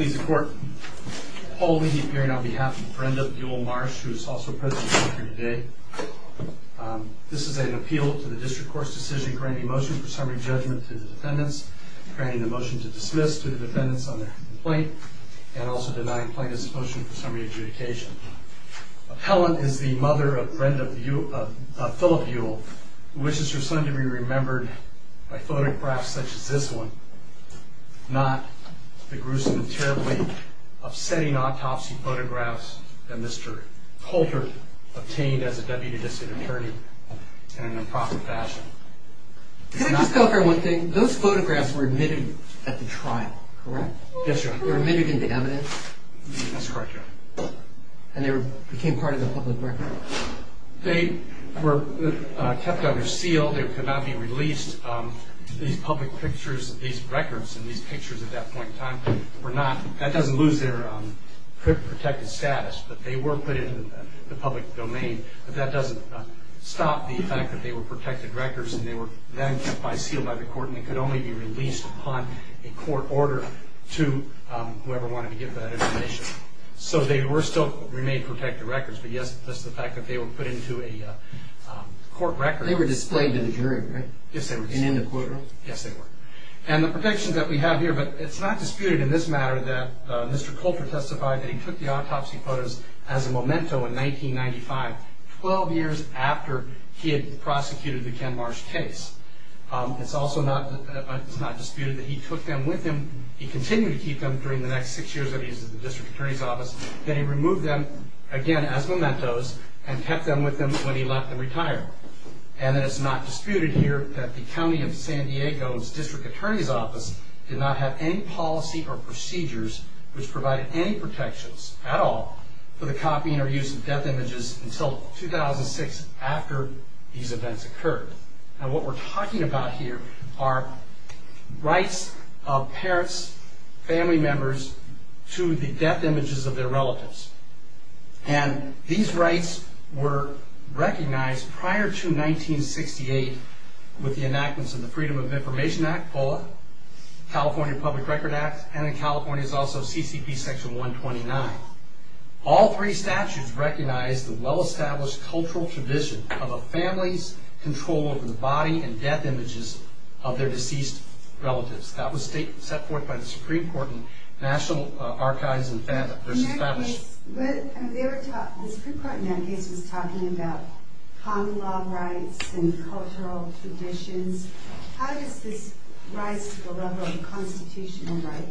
Please the court. Paul Levy appearing on behalf of Brenda Buell Marsh who is also present here today. This is an appeal to the district court's decision granting motion for summary judgment to the defendants, granting the motion to dismiss to the defendants on their complaint, and also denying plaintiff's motion for summary adjudication. Appellant is the mother of Phillip Buell, who wishes her son to be remembered by photographs such as this one, not the gruesome and terribly upsetting autopsy photographs that Mr. Holter obtained as a deputy district attorney in an improper fashion. Can I just go over one thing? Those photographs were admitted at the trial, correct? Yes, your honor. They were admitted into evidence? That's correct, your honor. And they became part of the public record? They were kept under seal. They could not be released. These public pictures, these records and these pictures at that point in time were not, that doesn't lose their protected status, but they were put into the public domain. But that doesn't stop the fact that they were protected records and they were then kept by, sealed by the court and they could only be released upon a court order to whoever wanted to get that information. So they were still, remained protected records, but yes, that's the fact that they were put into a court record. They were displayed to the jury, right? Yes, they were. And in the courtroom? Yes, they were. And the protections that we have here, but it's not disputed in this matter that Mr. Holter testified that he took the autopsy photos as a memento in 1995, 12 years after he had prosecuted the Ken Marsh case. It's also not, it's not disputed that he took them with him, he continued to keep them during the next six years that he was at the district court. The district attorney's office, that he removed them again as mementos and kept them with him when he left and retired. And then it's not disputed here that the County of San Diego's district attorney's office did not have any policy or procedures which provided any protections at all for the copying or use of death images until 2006 after these events occurred. And what we're talking about here are rights of parents, family members to the death images of their relatives. And these rights were recognized prior to 1968 with the enactments of the Freedom of Information Act, POLA, California Public Record Act, and in California it's also CCP section 129. All three statutes recognize the well-established cultural tradition of a family's control over the body and death images of their deceased relatives. That was set forth by the Supreme Court in National Archives in Fama versus Fama. The Supreme Court in that case was talking about common law rights and cultural traditions. How does this rise to the level of constitutional right?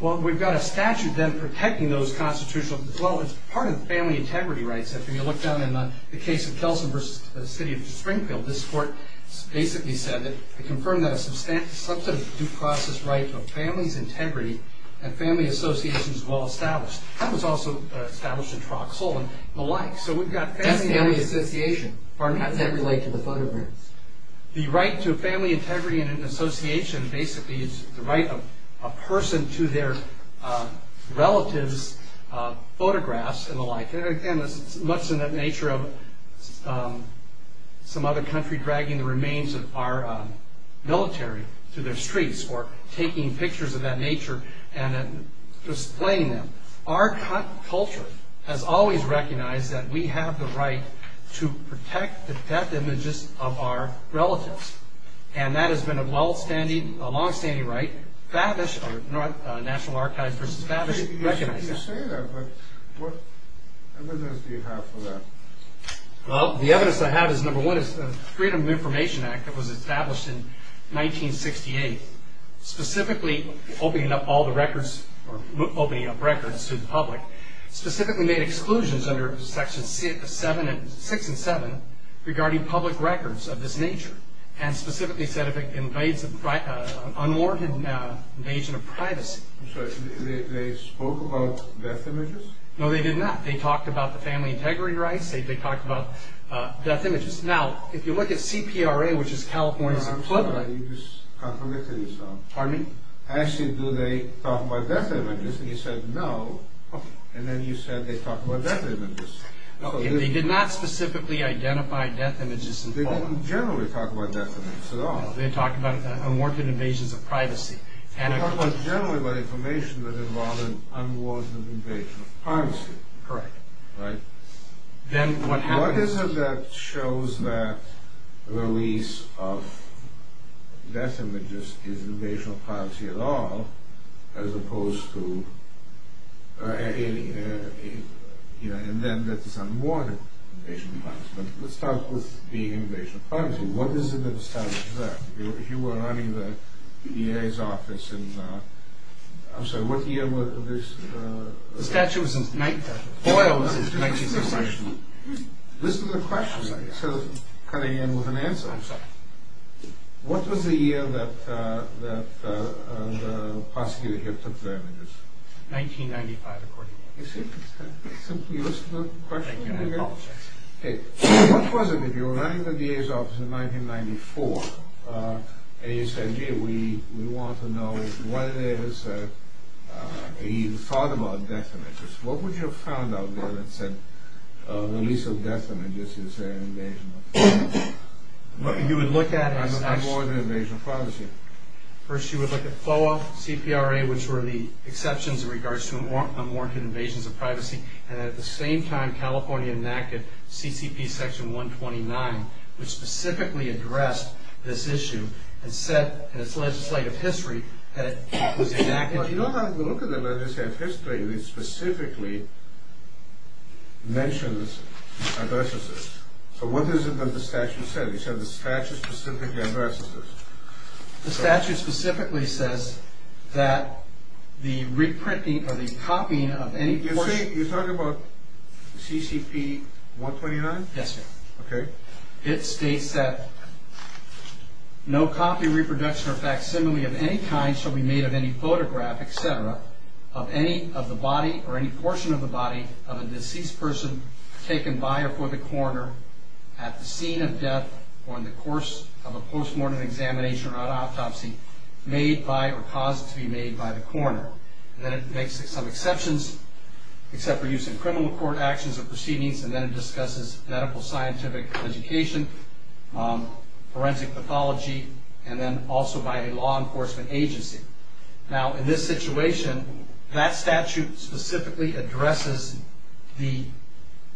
Well, we've got a statute then protecting those constitutional rights. Well, it's part of the family integrity rights. If you look down in the case of Kelsen versus the city of Springfield, this court basically said that it confirmed that a substantive due process right to a family's integrity and family association is well-established. That was also established in Troxel and the like. That's family association. How does that relate to the photographs? The right to a family integrity and association basically is the right of a person to their relatives' photographs and the like. And again, it's much in that nature of some other country dragging the remains of our military to their streets or taking pictures of that nature and displaying them. Our culture has always recognized that we have the right to protect the death images of our relatives. And that has been a long-standing right. National Archives versus Babish recognized that. You say that, but what evidence do you have for that? Well, the evidence I have is, number one, is the Freedom of Information Act that was established in 1968, specifically opening up records to the public, specifically made exclusions under sections 6 and 7 regarding public records of this nature, and specifically said if it invades unwarranted invasion of privacy. They spoke about death images? No, they did not. They talked about the family integrity rights. They talked about death images. Now, if you look at CPRA, which is California's employment… I'm sorry, I think you just contradicted yourself. Pardon me? Actually, do they talk about death images? And you said no. And then you said they talk about death images. They did not specifically identify death images involved. They didn't generally talk about death images at all. They talked generally about information that involved an unwarranted invasion of privacy. Correct. Right? Then what happens? What is it that shows that the release of death images is an invasion of privacy at all, as opposed to… and then that it's unwarranted invasion of privacy? Let's start with the invasion of privacy. What is it that establishes that? If you were running the DA's office in… I'm sorry, what year was this? The statute was in the 19th. Listen to the question. So, cutting in with an answer. I'm sorry. What was the year that the prosecutor here took the images? 1995, according to you. You listen to the question? Thank you. I apologize. Okay. What was it, if you were running the DA's office in 1994, and you said, gee, we want to know what it is that he thought about death images, what would you have found out there that said release of death images is an invasion of privacy? You would look at it as… Unwarranted invasion of privacy. First, you would look at FOA, CPRA, which were the exceptions in regards to unwarranted invasions of privacy, and at the same time, California enacted CCP section 129, which specifically addressed this issue and said in its legislative history that it was enacted… You don't have to look at the legislative history. It specifically mentions adversities. So, what is it that the statute said? It said the statute specifically addresses this. The statute specifically says that the reprinting or the copying of any… You're talking about CCP 129? Yes, sir. Okay. It states that no copy, reproduction, or facsimile of any kind shall be made of any photograph, etc., of any of the body or any portion of the body of a deceased person taken by or for the coroner at the scene of death or in the course of a postmortem examination or an autopsy made by or caused to be made by the coroner. Then it makes some exceptions, except for use in criminal court actions or proceedings, and then it discusses medical scientific education, forensic pathology, and then also by a law enforcement agency. Now, in this situation, that statute specifically addresses the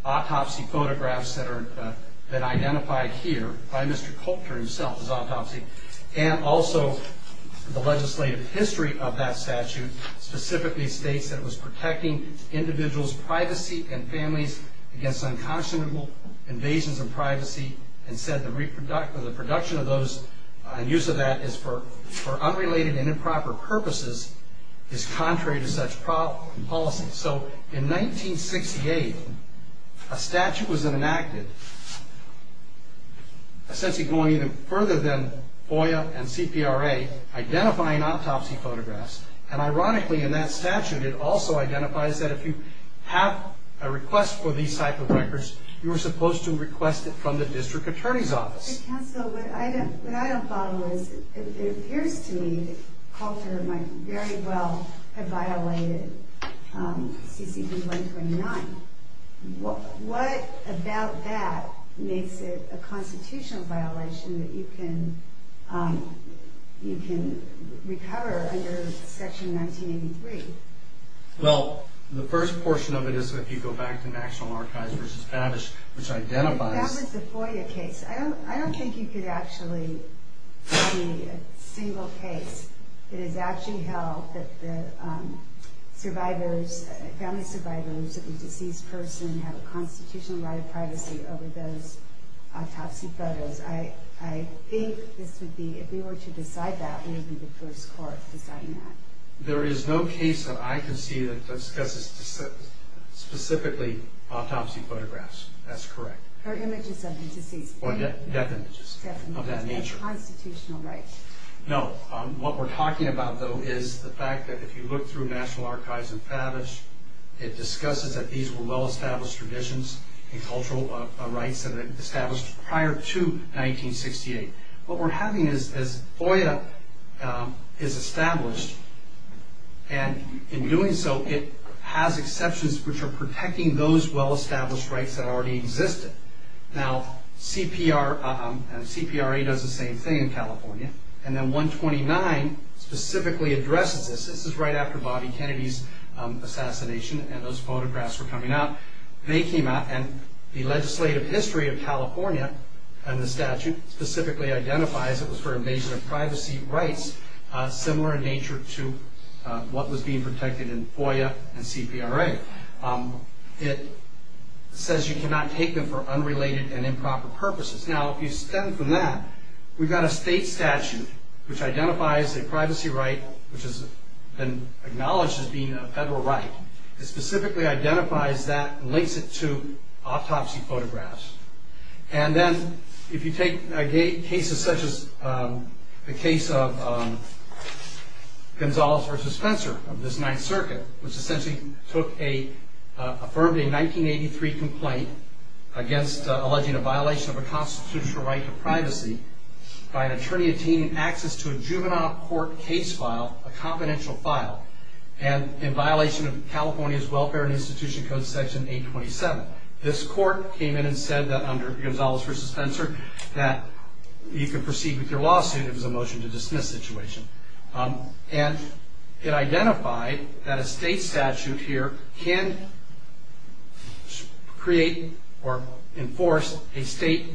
autopsy photographs that are identified here by Mr. Coulter himself as autopsy and also the legislative history of that statute specifically states that it was protecting individuals' privacy and families against unconscionable invasions of privacy and said the reproduction of those and use of that for unrelated and improper purposes is contrary to such policy. So, in 1968, a statute was enacted essentially going even further than FOIA and CPRA identifying autopsy photographs, and ironically in that statute, it also identifies that if you have a request for these type of records, you are supposed to request it from the district attorney's office. Counsel, what I don't follow is it appears to me that Coulter might very well have violated CCP 129. What about that makes it a constitutional violation that you can recover under section 1983? Well, the first portion of it is if you go back to National Archives v. Babish, which identifies That was the FOIA case. I don't think you could actually see a single case that has actually held that the survivors, family survivors of a deceased person have a constitutional right of privacy over those autopsy photos. I think this would be, if we were to decide that, we would be the first court deciding that. There is no case that I can see that discusses specifically autopsy photographs. That's correct. Or images of the deceased. Or death images of that nature. No, what we're talking about though is the fact that if you look through National Archives and Babish, it discusses that these were well-established traditions and cultural rights that were established prior to 1968. What we're having is FOIA is established, and in doing so, it has exceptions which are protecting those well-established rights that already existed. Now, CPRA does the same thing in California, and then 129 specifically addresses this. This is right after Bobby Kennedy's assassination and those photographs were coming out. They came out, and the legislative history of California and the statute specifically identifies it was for invasion of privacy rights similar in nature to what was being protected in FOIA and CPRA. It says you cannot take them for unrelated and improper purposes. Now, if you stem from that, we've got a state statute which identifies a privacy right which has been acknowledged as being a federal right. It specifically identifies that and links it to autopsy photographs. And then, if you take cases such as the case of Gonzales v. Spencer of this Ninth Circuit, which essentially took a, affirmed a 1983 complaint against alleging a violation of a constitutional right to privacy by an attorney obtaining access to a juvenile court case file, a confidential file, and in violation of California's Welfare and Institution Code, Section 827. This court came in and said that under Gonzales v. Spencer that you could proceed with your lawsuit if it was a motion to dismiss situation. And it identified that a state statute here can create or enforce a state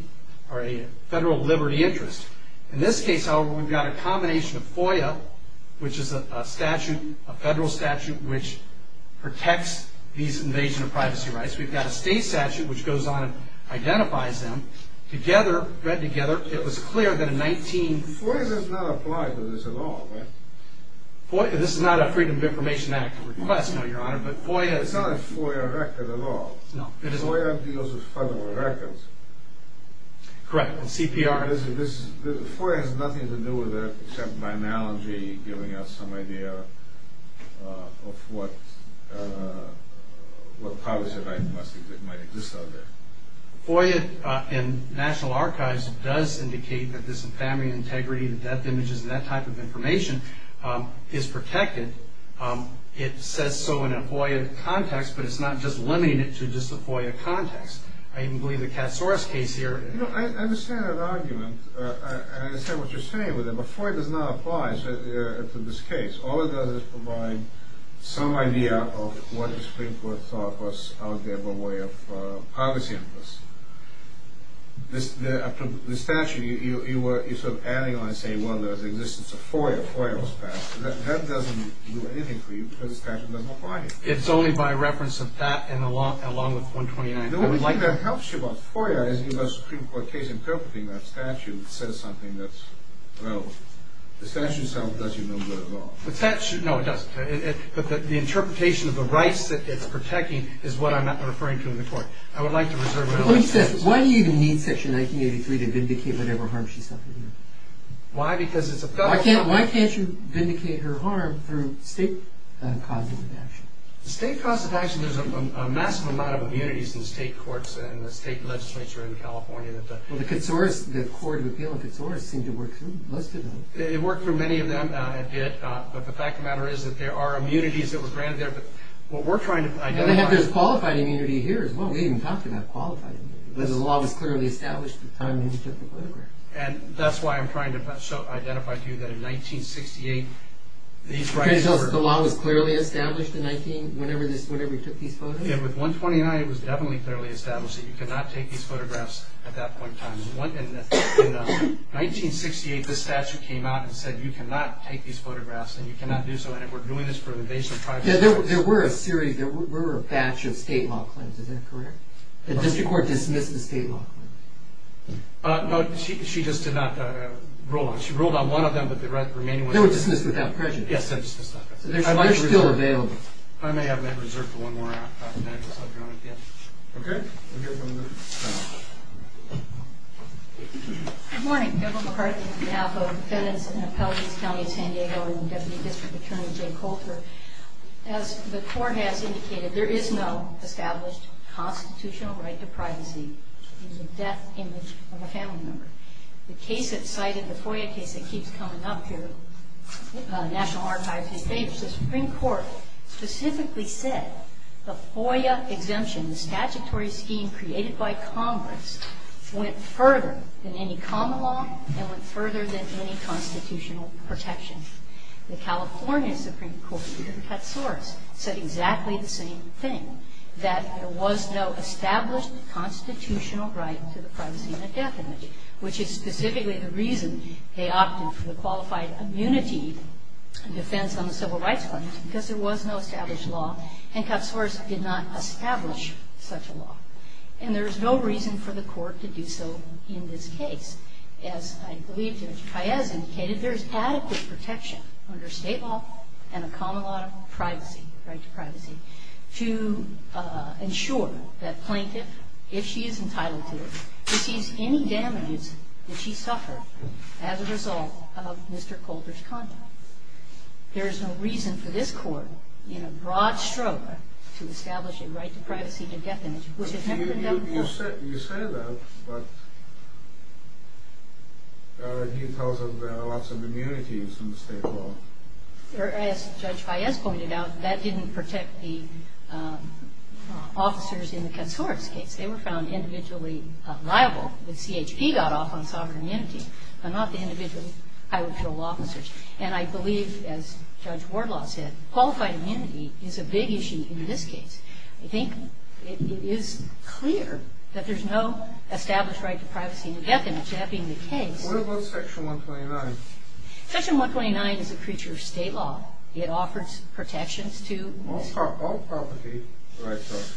or a federal liberty interest. In this case, however, we've got a combination of FOIA, which is a statute, a federal statute, which protects these invasion of privacy rights. We've got a state statute which goes on and identifies them. Together, read together, it was clear that in 19- FOIA does not apply to this at all, right? FOIA, this is not a Freedom of Information Act request, no, Your Honor, but FOIA- It's not a FOIA record at all. No, it isn't. FOIA deals with federal records. Correct. And CPR- This is, FOIA has nothing to do with that except my analogy giving us some idea of what, what privacy rights must exist, might exist out there. FOIA in National Archives does indicate that this family integrity, the death images and that type of information is protected. It says so in a FOIA context, but it's not just limiting it to just a FOIA context. I even believe the Katsouras case here- You know, I understand that argument, and I understand what you're saying with it, but FOIA does not apply to this case. All it does is provide some idea of what the Supreme Court thought was out there by way of privacy interests. The statute, you're sort of adding on and saying, well, there's the existence of FOIA, FOIA was passed, and that doesn't do anything for you because the statute doesn't apply to you. It's only by reference of that and along with 129- The only thing that helps you about FOIA is in the Supreme Court case, interpreting that statute says something that's relevant. The statute does you no good at all. The statute, no, it doesn't. But the interpretation of the rights that it's protecting is what I'm referring to in the court. I would like to reserve- Why do you even need Section 1983 to vindicate whatever harm she suffered? Why? Because it's a federal- Why can't you vindicate her harm through state causes of action? State causes of action, there's a massive amount of immunities in the state courts and the state legislature in California that the- It worked for many of them, it did, but the fact of the matter is that there are immunities that were granted there, but what we're trying to identify- And there's qualified immunity here as well. We even talked about qualified immunity. The law was clearly established at the time when he took the photographs. And that's why I'm trying to identify to you that in 1968, these rights were- Can you tell us the law was clearly established in 19- whenever he took these photos? Yeah, with 129, it was definitely clearly established that you could not take these photographs at that point in time. In 1968, the statute came out and said you cannot take these photographs and you cannot do so, and it worked. Doing this for an invasion of privacy- Yeah, there were a series, there were a batch of state law claims. Is that correct? The district court dismissed the state law claims. No, she just did not rule on them. She ruled on one of them, but the remaining ones- They were dismissed without prejudice. Yes, they were dismissed without prejudice. They're still available. I may have my reserve for one more. I'll join at the end. Okay. Good morning, Governor McCarthy, on behalf of defendants in Appellate East County of San Diego and Deputy District Attorney Jay Coulter. As the court has indicated, there is no established constitutional right to privacy. It's a death image of a family member. The case that's cited, the FOIA case that keeps coming up here, National Archives- The Supreme Court specifically said the FOIA exemption, the statutory scheme created by Congress, went further than any common law and went further than any constitutional protection. The California Supreme Court, under Katsouras, said exactly the same thing, that there was no established constitutional right to the privacy and the death image, which is specifically the reason they opted for the qualified immunity defense on the Civil Rights Claims, because there was no established law, and Katsouras did not establish such a law. And there is no reason for the court to do so in this case. As I believe Judge Paez indicated, there is adequate protection under state law and a common law of privacy, right to privacy, to ensure that plaintiff, if she is entitled to it, receives any damages that she suffered as a result of Mr. Coulter's conduct. There is no reason for this court, in a broad stroke, to establish a right to privacy, to death image. You say that, but he tells us there are lots of immunities in the state law. As Judge Paez pointed out, that didn't protect the officers in the Katsouras case. They were found individually liable. The CHP got off on sovereign immunity, but not the individual highway patrol officers. And I believe, as Judge Wardlaw said, qualified immunity is a big issue in this case. I think it is clear that there is no established right to privacy and death image, that being the case. What about Section 129? Section 129 is a creature of state law. It offers protections to... All property rights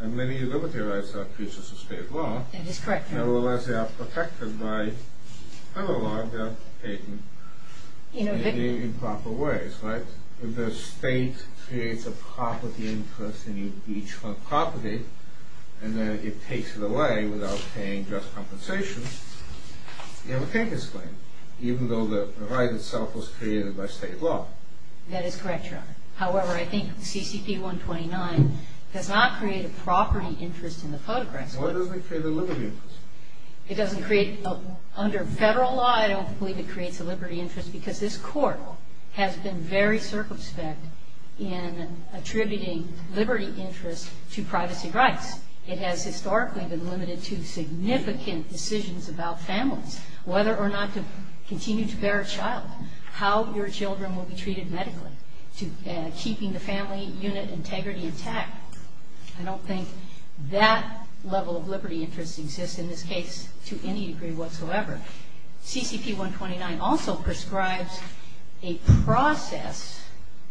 and many liberty rights are creatures of state law. That is correct. Nevertheless, they are protected by penal law, they are taken in proper ways, right? If the state creates a property interest in each property and then it takes it away without paying just compensation, you have a taker's claim, even though the right itself was created by state law. That is correct, Your Honor. However, I think CCP 129 does not create a property interest in the photographs. Why doesn't it create a liberty interest? It doesn't create... Under federal law, I don't believe it creates a liberty interest because this Court has been very circumspect in attributing liberty interest to privacy rights. It has historically been limited to significant decisions about families, whether or not to continue to bear a child, how your children will be treated medically, keeping the family unit integrity intact. I don't think that level of liberty interest exists in this case to any degree whatsoever. CCP 129 also prescribes a process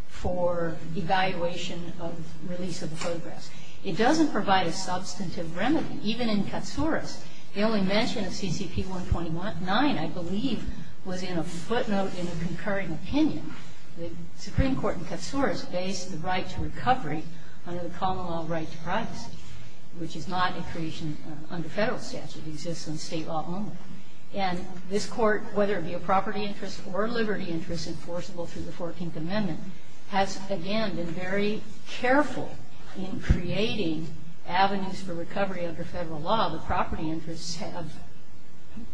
for evaluation of release of the photographs. It doesn't provide a substantive remedy. Even in Katsouras, the only mention of CCP 129, I believe, was in a footnote in a concurring opinion. The Supreme Court in Katsouras based the right to recovery under the common law right to privacy, which is not a creation under federal statute. It exists under state law only. And this Court, whether it be a property interest or a liberty interest enforceable through the 14th Amendment, has again been very careful in creating avenues for recovery under federal law. The property interests have,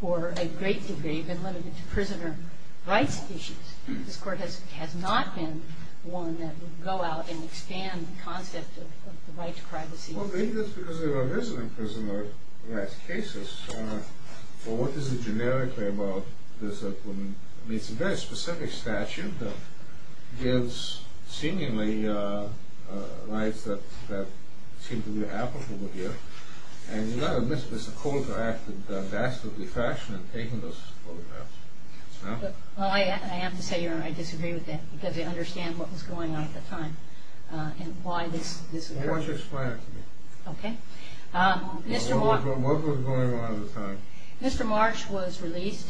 for a great degree, been limited to prisoner rights issues. This Court has not been one that would go out and expand the concept of the right to privacy. Well, maybe that's because they were a resident prisoner in the last cases. But what is it generically about this? I mean, it's a very specific statute that gives seemingly rights that seem to be applicable here. And you've got to admit, it's a cold-hearted, bastardly fashion in taking those photographs. Well, I have to say I disagree with that because I understand what was going on at the time and why this occurred. Why don't you explain it to me. Okay. What was going on at the time? Mr. Marsh was released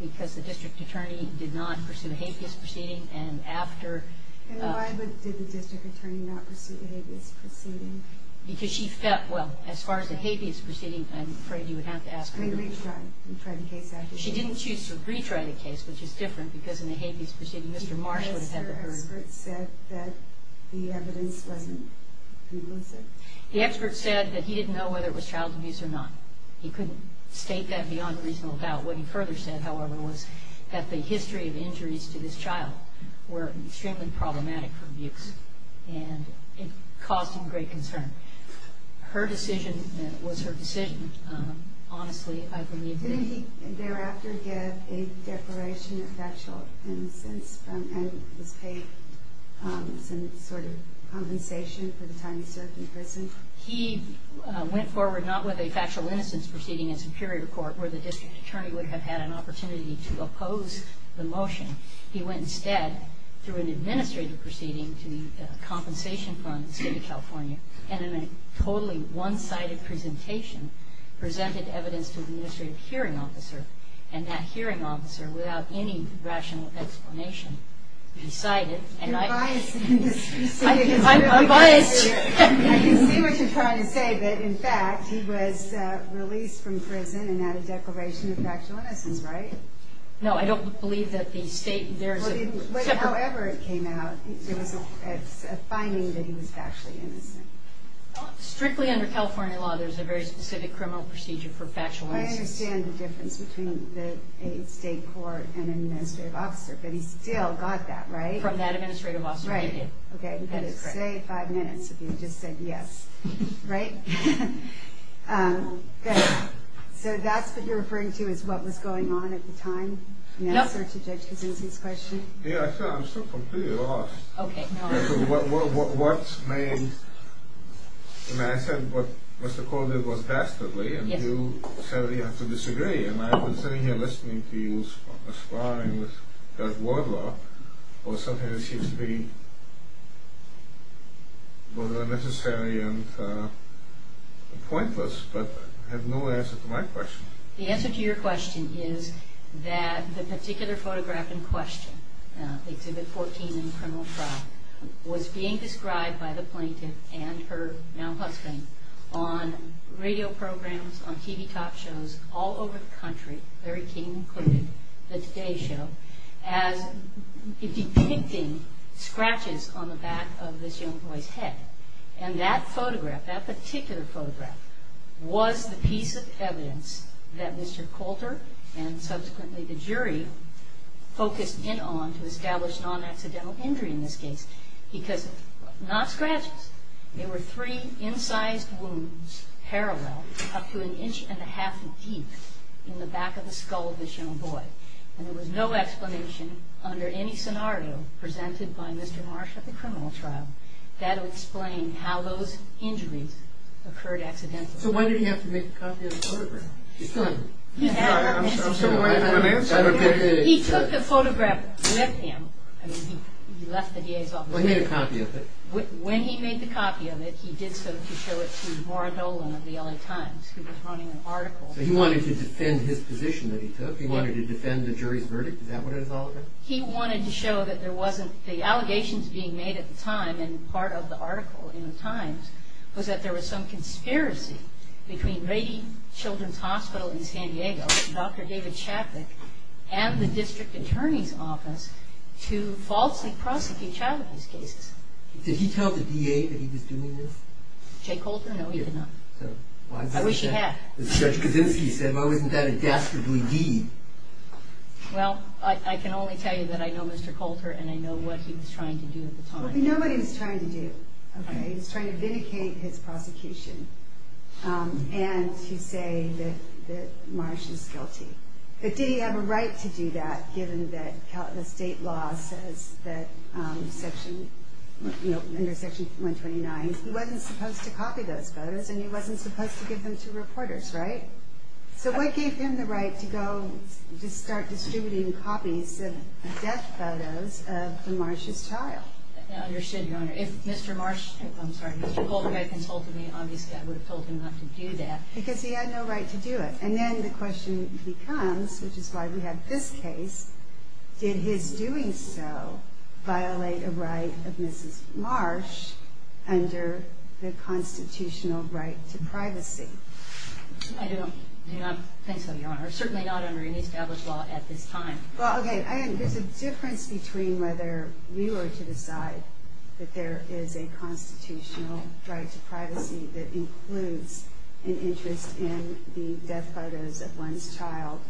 because the district attorney did not pursue the habeas proceeding. And why did the district attorney not pursue the habeas proceeding? Because she felt, well, as far as the habeas proceeding, I'm afraid you would have to ask her. She didn't choose to retry the case, which is different because in the habeas proceeding, Mr. Marsh would have had the verdict. The expert said that he didn't know whether it was child abuse or not. He couldn't state that beyond reasonable doubt. What he further said, however, was that the history of injuries to this child were extremely problematic for abuse and it caused him great concern. Her decision was her decision. Honestly, I believe that... Didn't he thereafter get a declaration of factual innocence and was paid some sort of compensation for the time he served in prison? He went forward not with a factual innocence proceeding in superior court where the district attorney would have had an opportunity to oppose the motion. He went instead through an administrative proceeding to the compensation fund in the state of California and in a totally one-sided presentation presented evidence to the administrative hearing officer and that hearing officer, without any rational explanation, decided... You're biased in this proceeding. I'm biased. I can see what you're trying to say, that in fact he was released from prison and had a declaration of factual innocence, right? No, I don't believe that the state... However it came out, it's a finding that he was factually innocent. Strictly under California law, there's a very specific criminal procedure for factual innocence. I understand the difference between a state court and an administrative officer, but he still got that, right? From that administrative officer. Right, okay. But it's, say, five minutes if you just said yes. Right? Good. So that's what you're referring to as what was going on at the time? Yes. In answer to Judge Kosinski's question? Yeah, I'm still completely lost. Okay. What's made... I said what Mr. Corley did was dastardly, and you said we have to disagree, and I've been sitting here listening to you sparring with Judge Wardlaw over something that seems to be both unnecessary and pointless, but has no answer to my question. The answer to your question is that the particular photograph in question, Exhibit 14 in the criminal trial, was being described by the plaintiff and her now husband on radio programs, on TV talk shows, all over the country, Larry King included, the Today Show, as depicting scratches on the back of this young boy's head. And that photograph, that particular photograph, was the piece of evidence that Mr. Coulter and subsequently the jury focused in on to establish non-accidental injury in this case. Because, not scratches, there were three incised wounds parallel up to an inch and a half deep in the back of the skull of this young boy. And there was no explanation under any scenario presented by Mr. Marsh at the criminal trial that would explain how those injuries occurred accidentally. So why did he have to make a copy of the photograph? He took the photograph with him. He left the DA's office. He made a copy of it. When he made the copy of it, he did so to show it to Laura Dolan of the LA Times, who was running an article. So he wanted to defend his position that he took? He wanted to defend the jury's verdict? Is that what it was all about? He wanted to show that there wasn't, the allegations being made at the time, and part of the article in the Times, was that there was some conspiracy between Rady Children's Hospital in San Diego, Dr. David Chapik, and the district attorney's office to falsely prosecute child abuse cases. Did he tell the DA that he was doing this? Jay Coulter? No, he did not. I wish he had. Judge Kaczynski said, why wasn't that a dastardly deed? Well, I can only tell you that I know Mr. Coulter, and I know what he was trying to do at the time. Well, we know what he was trying to do. He was trying to vindicate his prosecution. And to say that Marsh is guilty. But did he have a right to do that, given that the state law says that, under Section 129, he wasn't supposed to copy those photos, and he wasn't supposed to give them to reporters, right? So what gave him the right to go, to start distributing copies of death photos of Marsh's child? I understand, Your Honor. If Mr. Marsh, I'm sorry, Mr. Coulter, had consulted me, obviously I would have told him not to do that. Because he had no right to do it. And then the question becomes, which is why we have this case, did his doing so violate a right of Mrs. Marsh under the constitutional right to privacy? I do not think so, Your Honor. Certainly not under any established law at this time. Well, okay, there's a difference between whether we were to decide that there is a constitutional right to privacy that includes an interest in the death photos of one's child.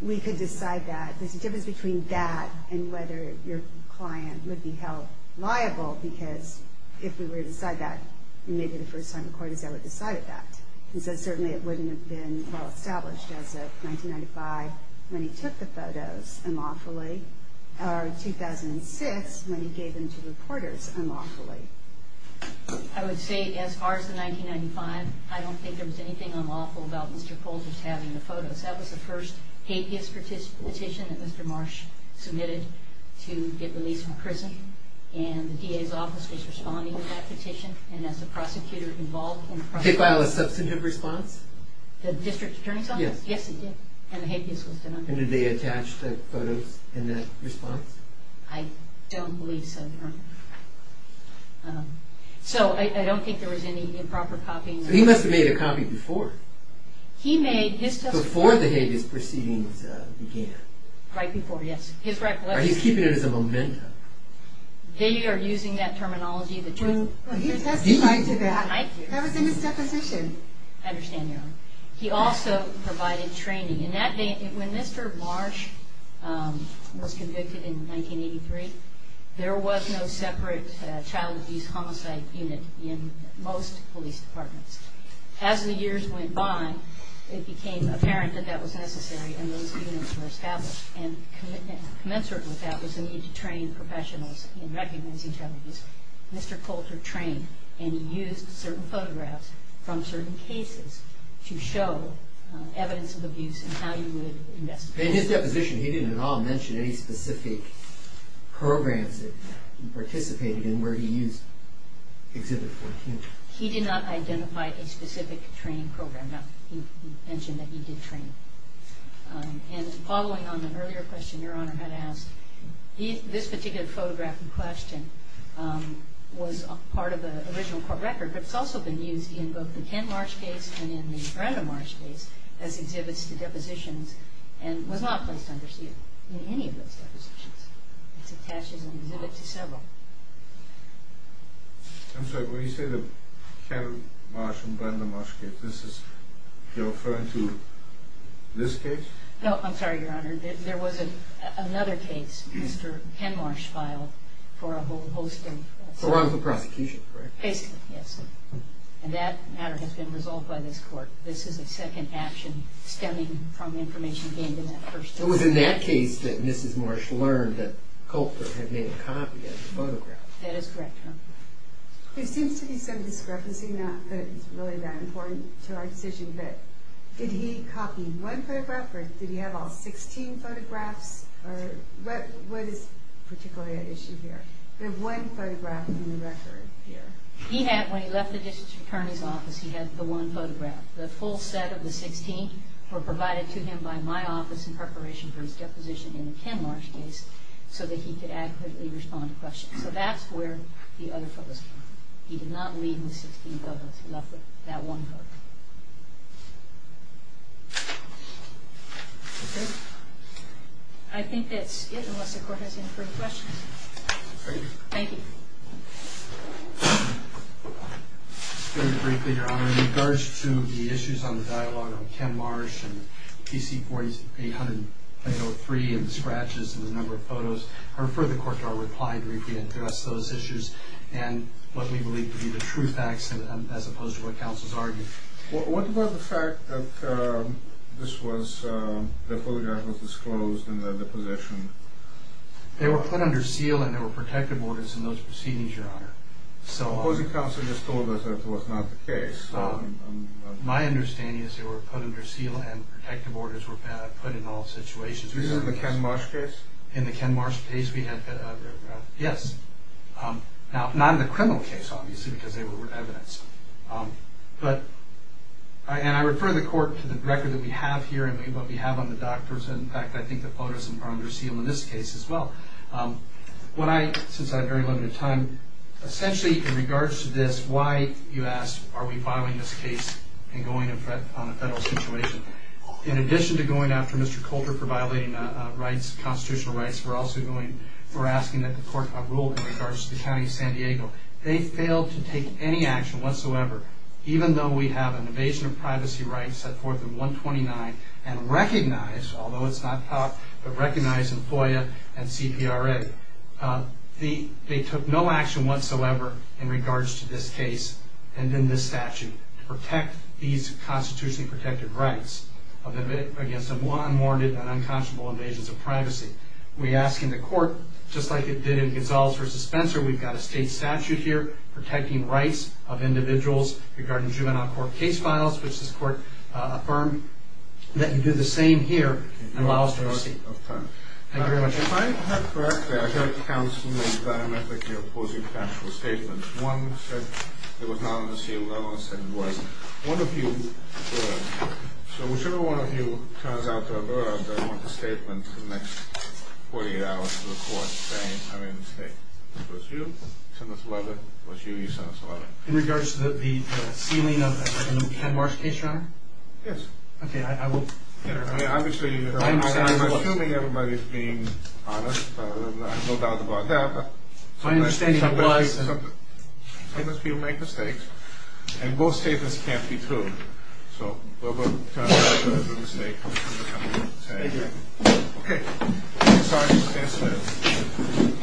We could decide that. There's a difference between that and whether your client would be held liable, because if we were to decide that, maybe the first time a court is ever decided that. And so certainly it wouldn't have been well established as of 1995, when he took the photos, or 2006, when he gave them to reporters unlawfully. I would say as far as the 1995, I don't think there was anything unlawful about Mr. Coulter's having the photos. That was the first hapeist petition that Mr. Marsh submitted to get released from prison. And the DA's office was responding to that petition. And as the prosecutor involved... Did it file a substantive response? The district attorney's office? Yes. Yes, it did. And the hapeist was done. And did they attach the photos in that response? I don't believe so. So I don't think there was any improper copying. He must have made a copy before. He made his... Before the hapeis proceedings began. Right before, yes. He's keeping it as a memento. They are using that terminology. He testified to that. That was in his deposition. I understand, Your Honor. He also provided training. When Mr. Marsh was convicted in 1983, there was no separate child abuse homicide unit in most police departments. As the years went by, it became apparent that that was necessary and those units were established. And commensurate with that was the need to train professionals in recognizing child abuse. Mr. Coulter trained and used certain photographs from certain cases to show evidence of abuse and how you would investigate. In his deposition, he didn't at all mention any specific programs that he participated in where he used Exhibit 14. He did not identify a specific training program. He mentioned that he did train. And following on an earlier question Your Honor had asked, this particular photograph in question was part of the original court record, but it's also been used in both the Ken Marsh case and in the Brandon Marsh case as exhibits to depositions and was not placed under seal in any of those depositions. It's attached as an exhibit to several. I'm sorry, when you say the Ken Marsh and Brandon Marsh case, this is referring to this case? No, I'm sorry, Your Honor. There was another case Mr. Ken Marsh filed for a whole host of... For one of the prosecutions, right? Basically, yes. And that matter has been resolved by this court. This is a second action stemming from information gained in that first case. It was in that case that Mrs. Marsh learned that Culpert had made a copy of the photograph. That is correct, Your Honor. There seems to be some discrepancy, not that it's really that important to our decision, but did he copy one photograph or did he have all 16 photographs? Or what is particularly at issue here? There's one photograph in the record here. He had, when he left the district attorney's office, he had the one photograph. The full set of the 16 were provided to him by my office in preparation for his deposition in the Ken Marsh case so that he could adequately respond to questions. So that's where the other photos are. He did not leave the 16 photos. He left that one photo. I think that's it unless the court has any further questions. Thank you. Very briefly, Your Honor, in regards to the issues on the dialogue on Ken Marsh and PC-4803 and the scratches and the number of photos, I refer the court to our reply to address those issues and what we believe to be the true facts as opposed to what counsel's argued. What about the fact that this was, the photograph was disclosed in the deposition? They were put under seal and there were protective orders in those proceedings, Your Honor. The opposing counsel just told us that was not the case. My understanding is they were put under seal and protective orders were put in all situations. This is in the Ken Marsh case? In the Ken Marsh case, yes. Now, not in the criminal case, obviously, because they were evidence. But, and I refer the court to the record that we have here and what we have on the doctors. In fact, I think the photos were under seal in this case as well. What I, since I have very limited time, essentially, in regards to this, why, you ask, are we filing this case and going on a federal situation? In addition to going after Mr. Coulter for violating constitutional rights, we're also going, we're asking that the court rule in regards to the county of San Diego. They failed to take any action whatsoever, even though we have an evasion of privacy right set forth in 129 and recognized, although it's not taught, but recognized in FOIA and CPRA. They took no action whatsoever in regards to this case and in this statute to protect these constitutionally protected rights against unwarranted and unconscionable evasions of privacy. We ask in the court, just like it did in Gonzales v. Spencer, we've got a state statute here protecting rights of individuals regarding juvenile court case files, which this court affirmed. We ask that you do the same here and allow us to proceed. Thank you very much. If I heard correctly, I heard counseling diametrically opposing factual statements. One said it was not on the seal. The other one said it was. One of you, so whichever one of you turns out to have erred, I want the statement for the next 48 hours to the court saying, I made a mistake. It was you. You sent us a letter. It was you. You sent us a letter. In regards to the sealing of the Ken Marsh case, Your Honor? Yes. Okay, I will... Obviously, I'm assuming everybody's being honest. I have no doubt about that. My understanding was... Sometimes people make mistakes. And most statements can't be true. So we'll turn it back to the state. Thank you. Okay. I'm sorry for this incident.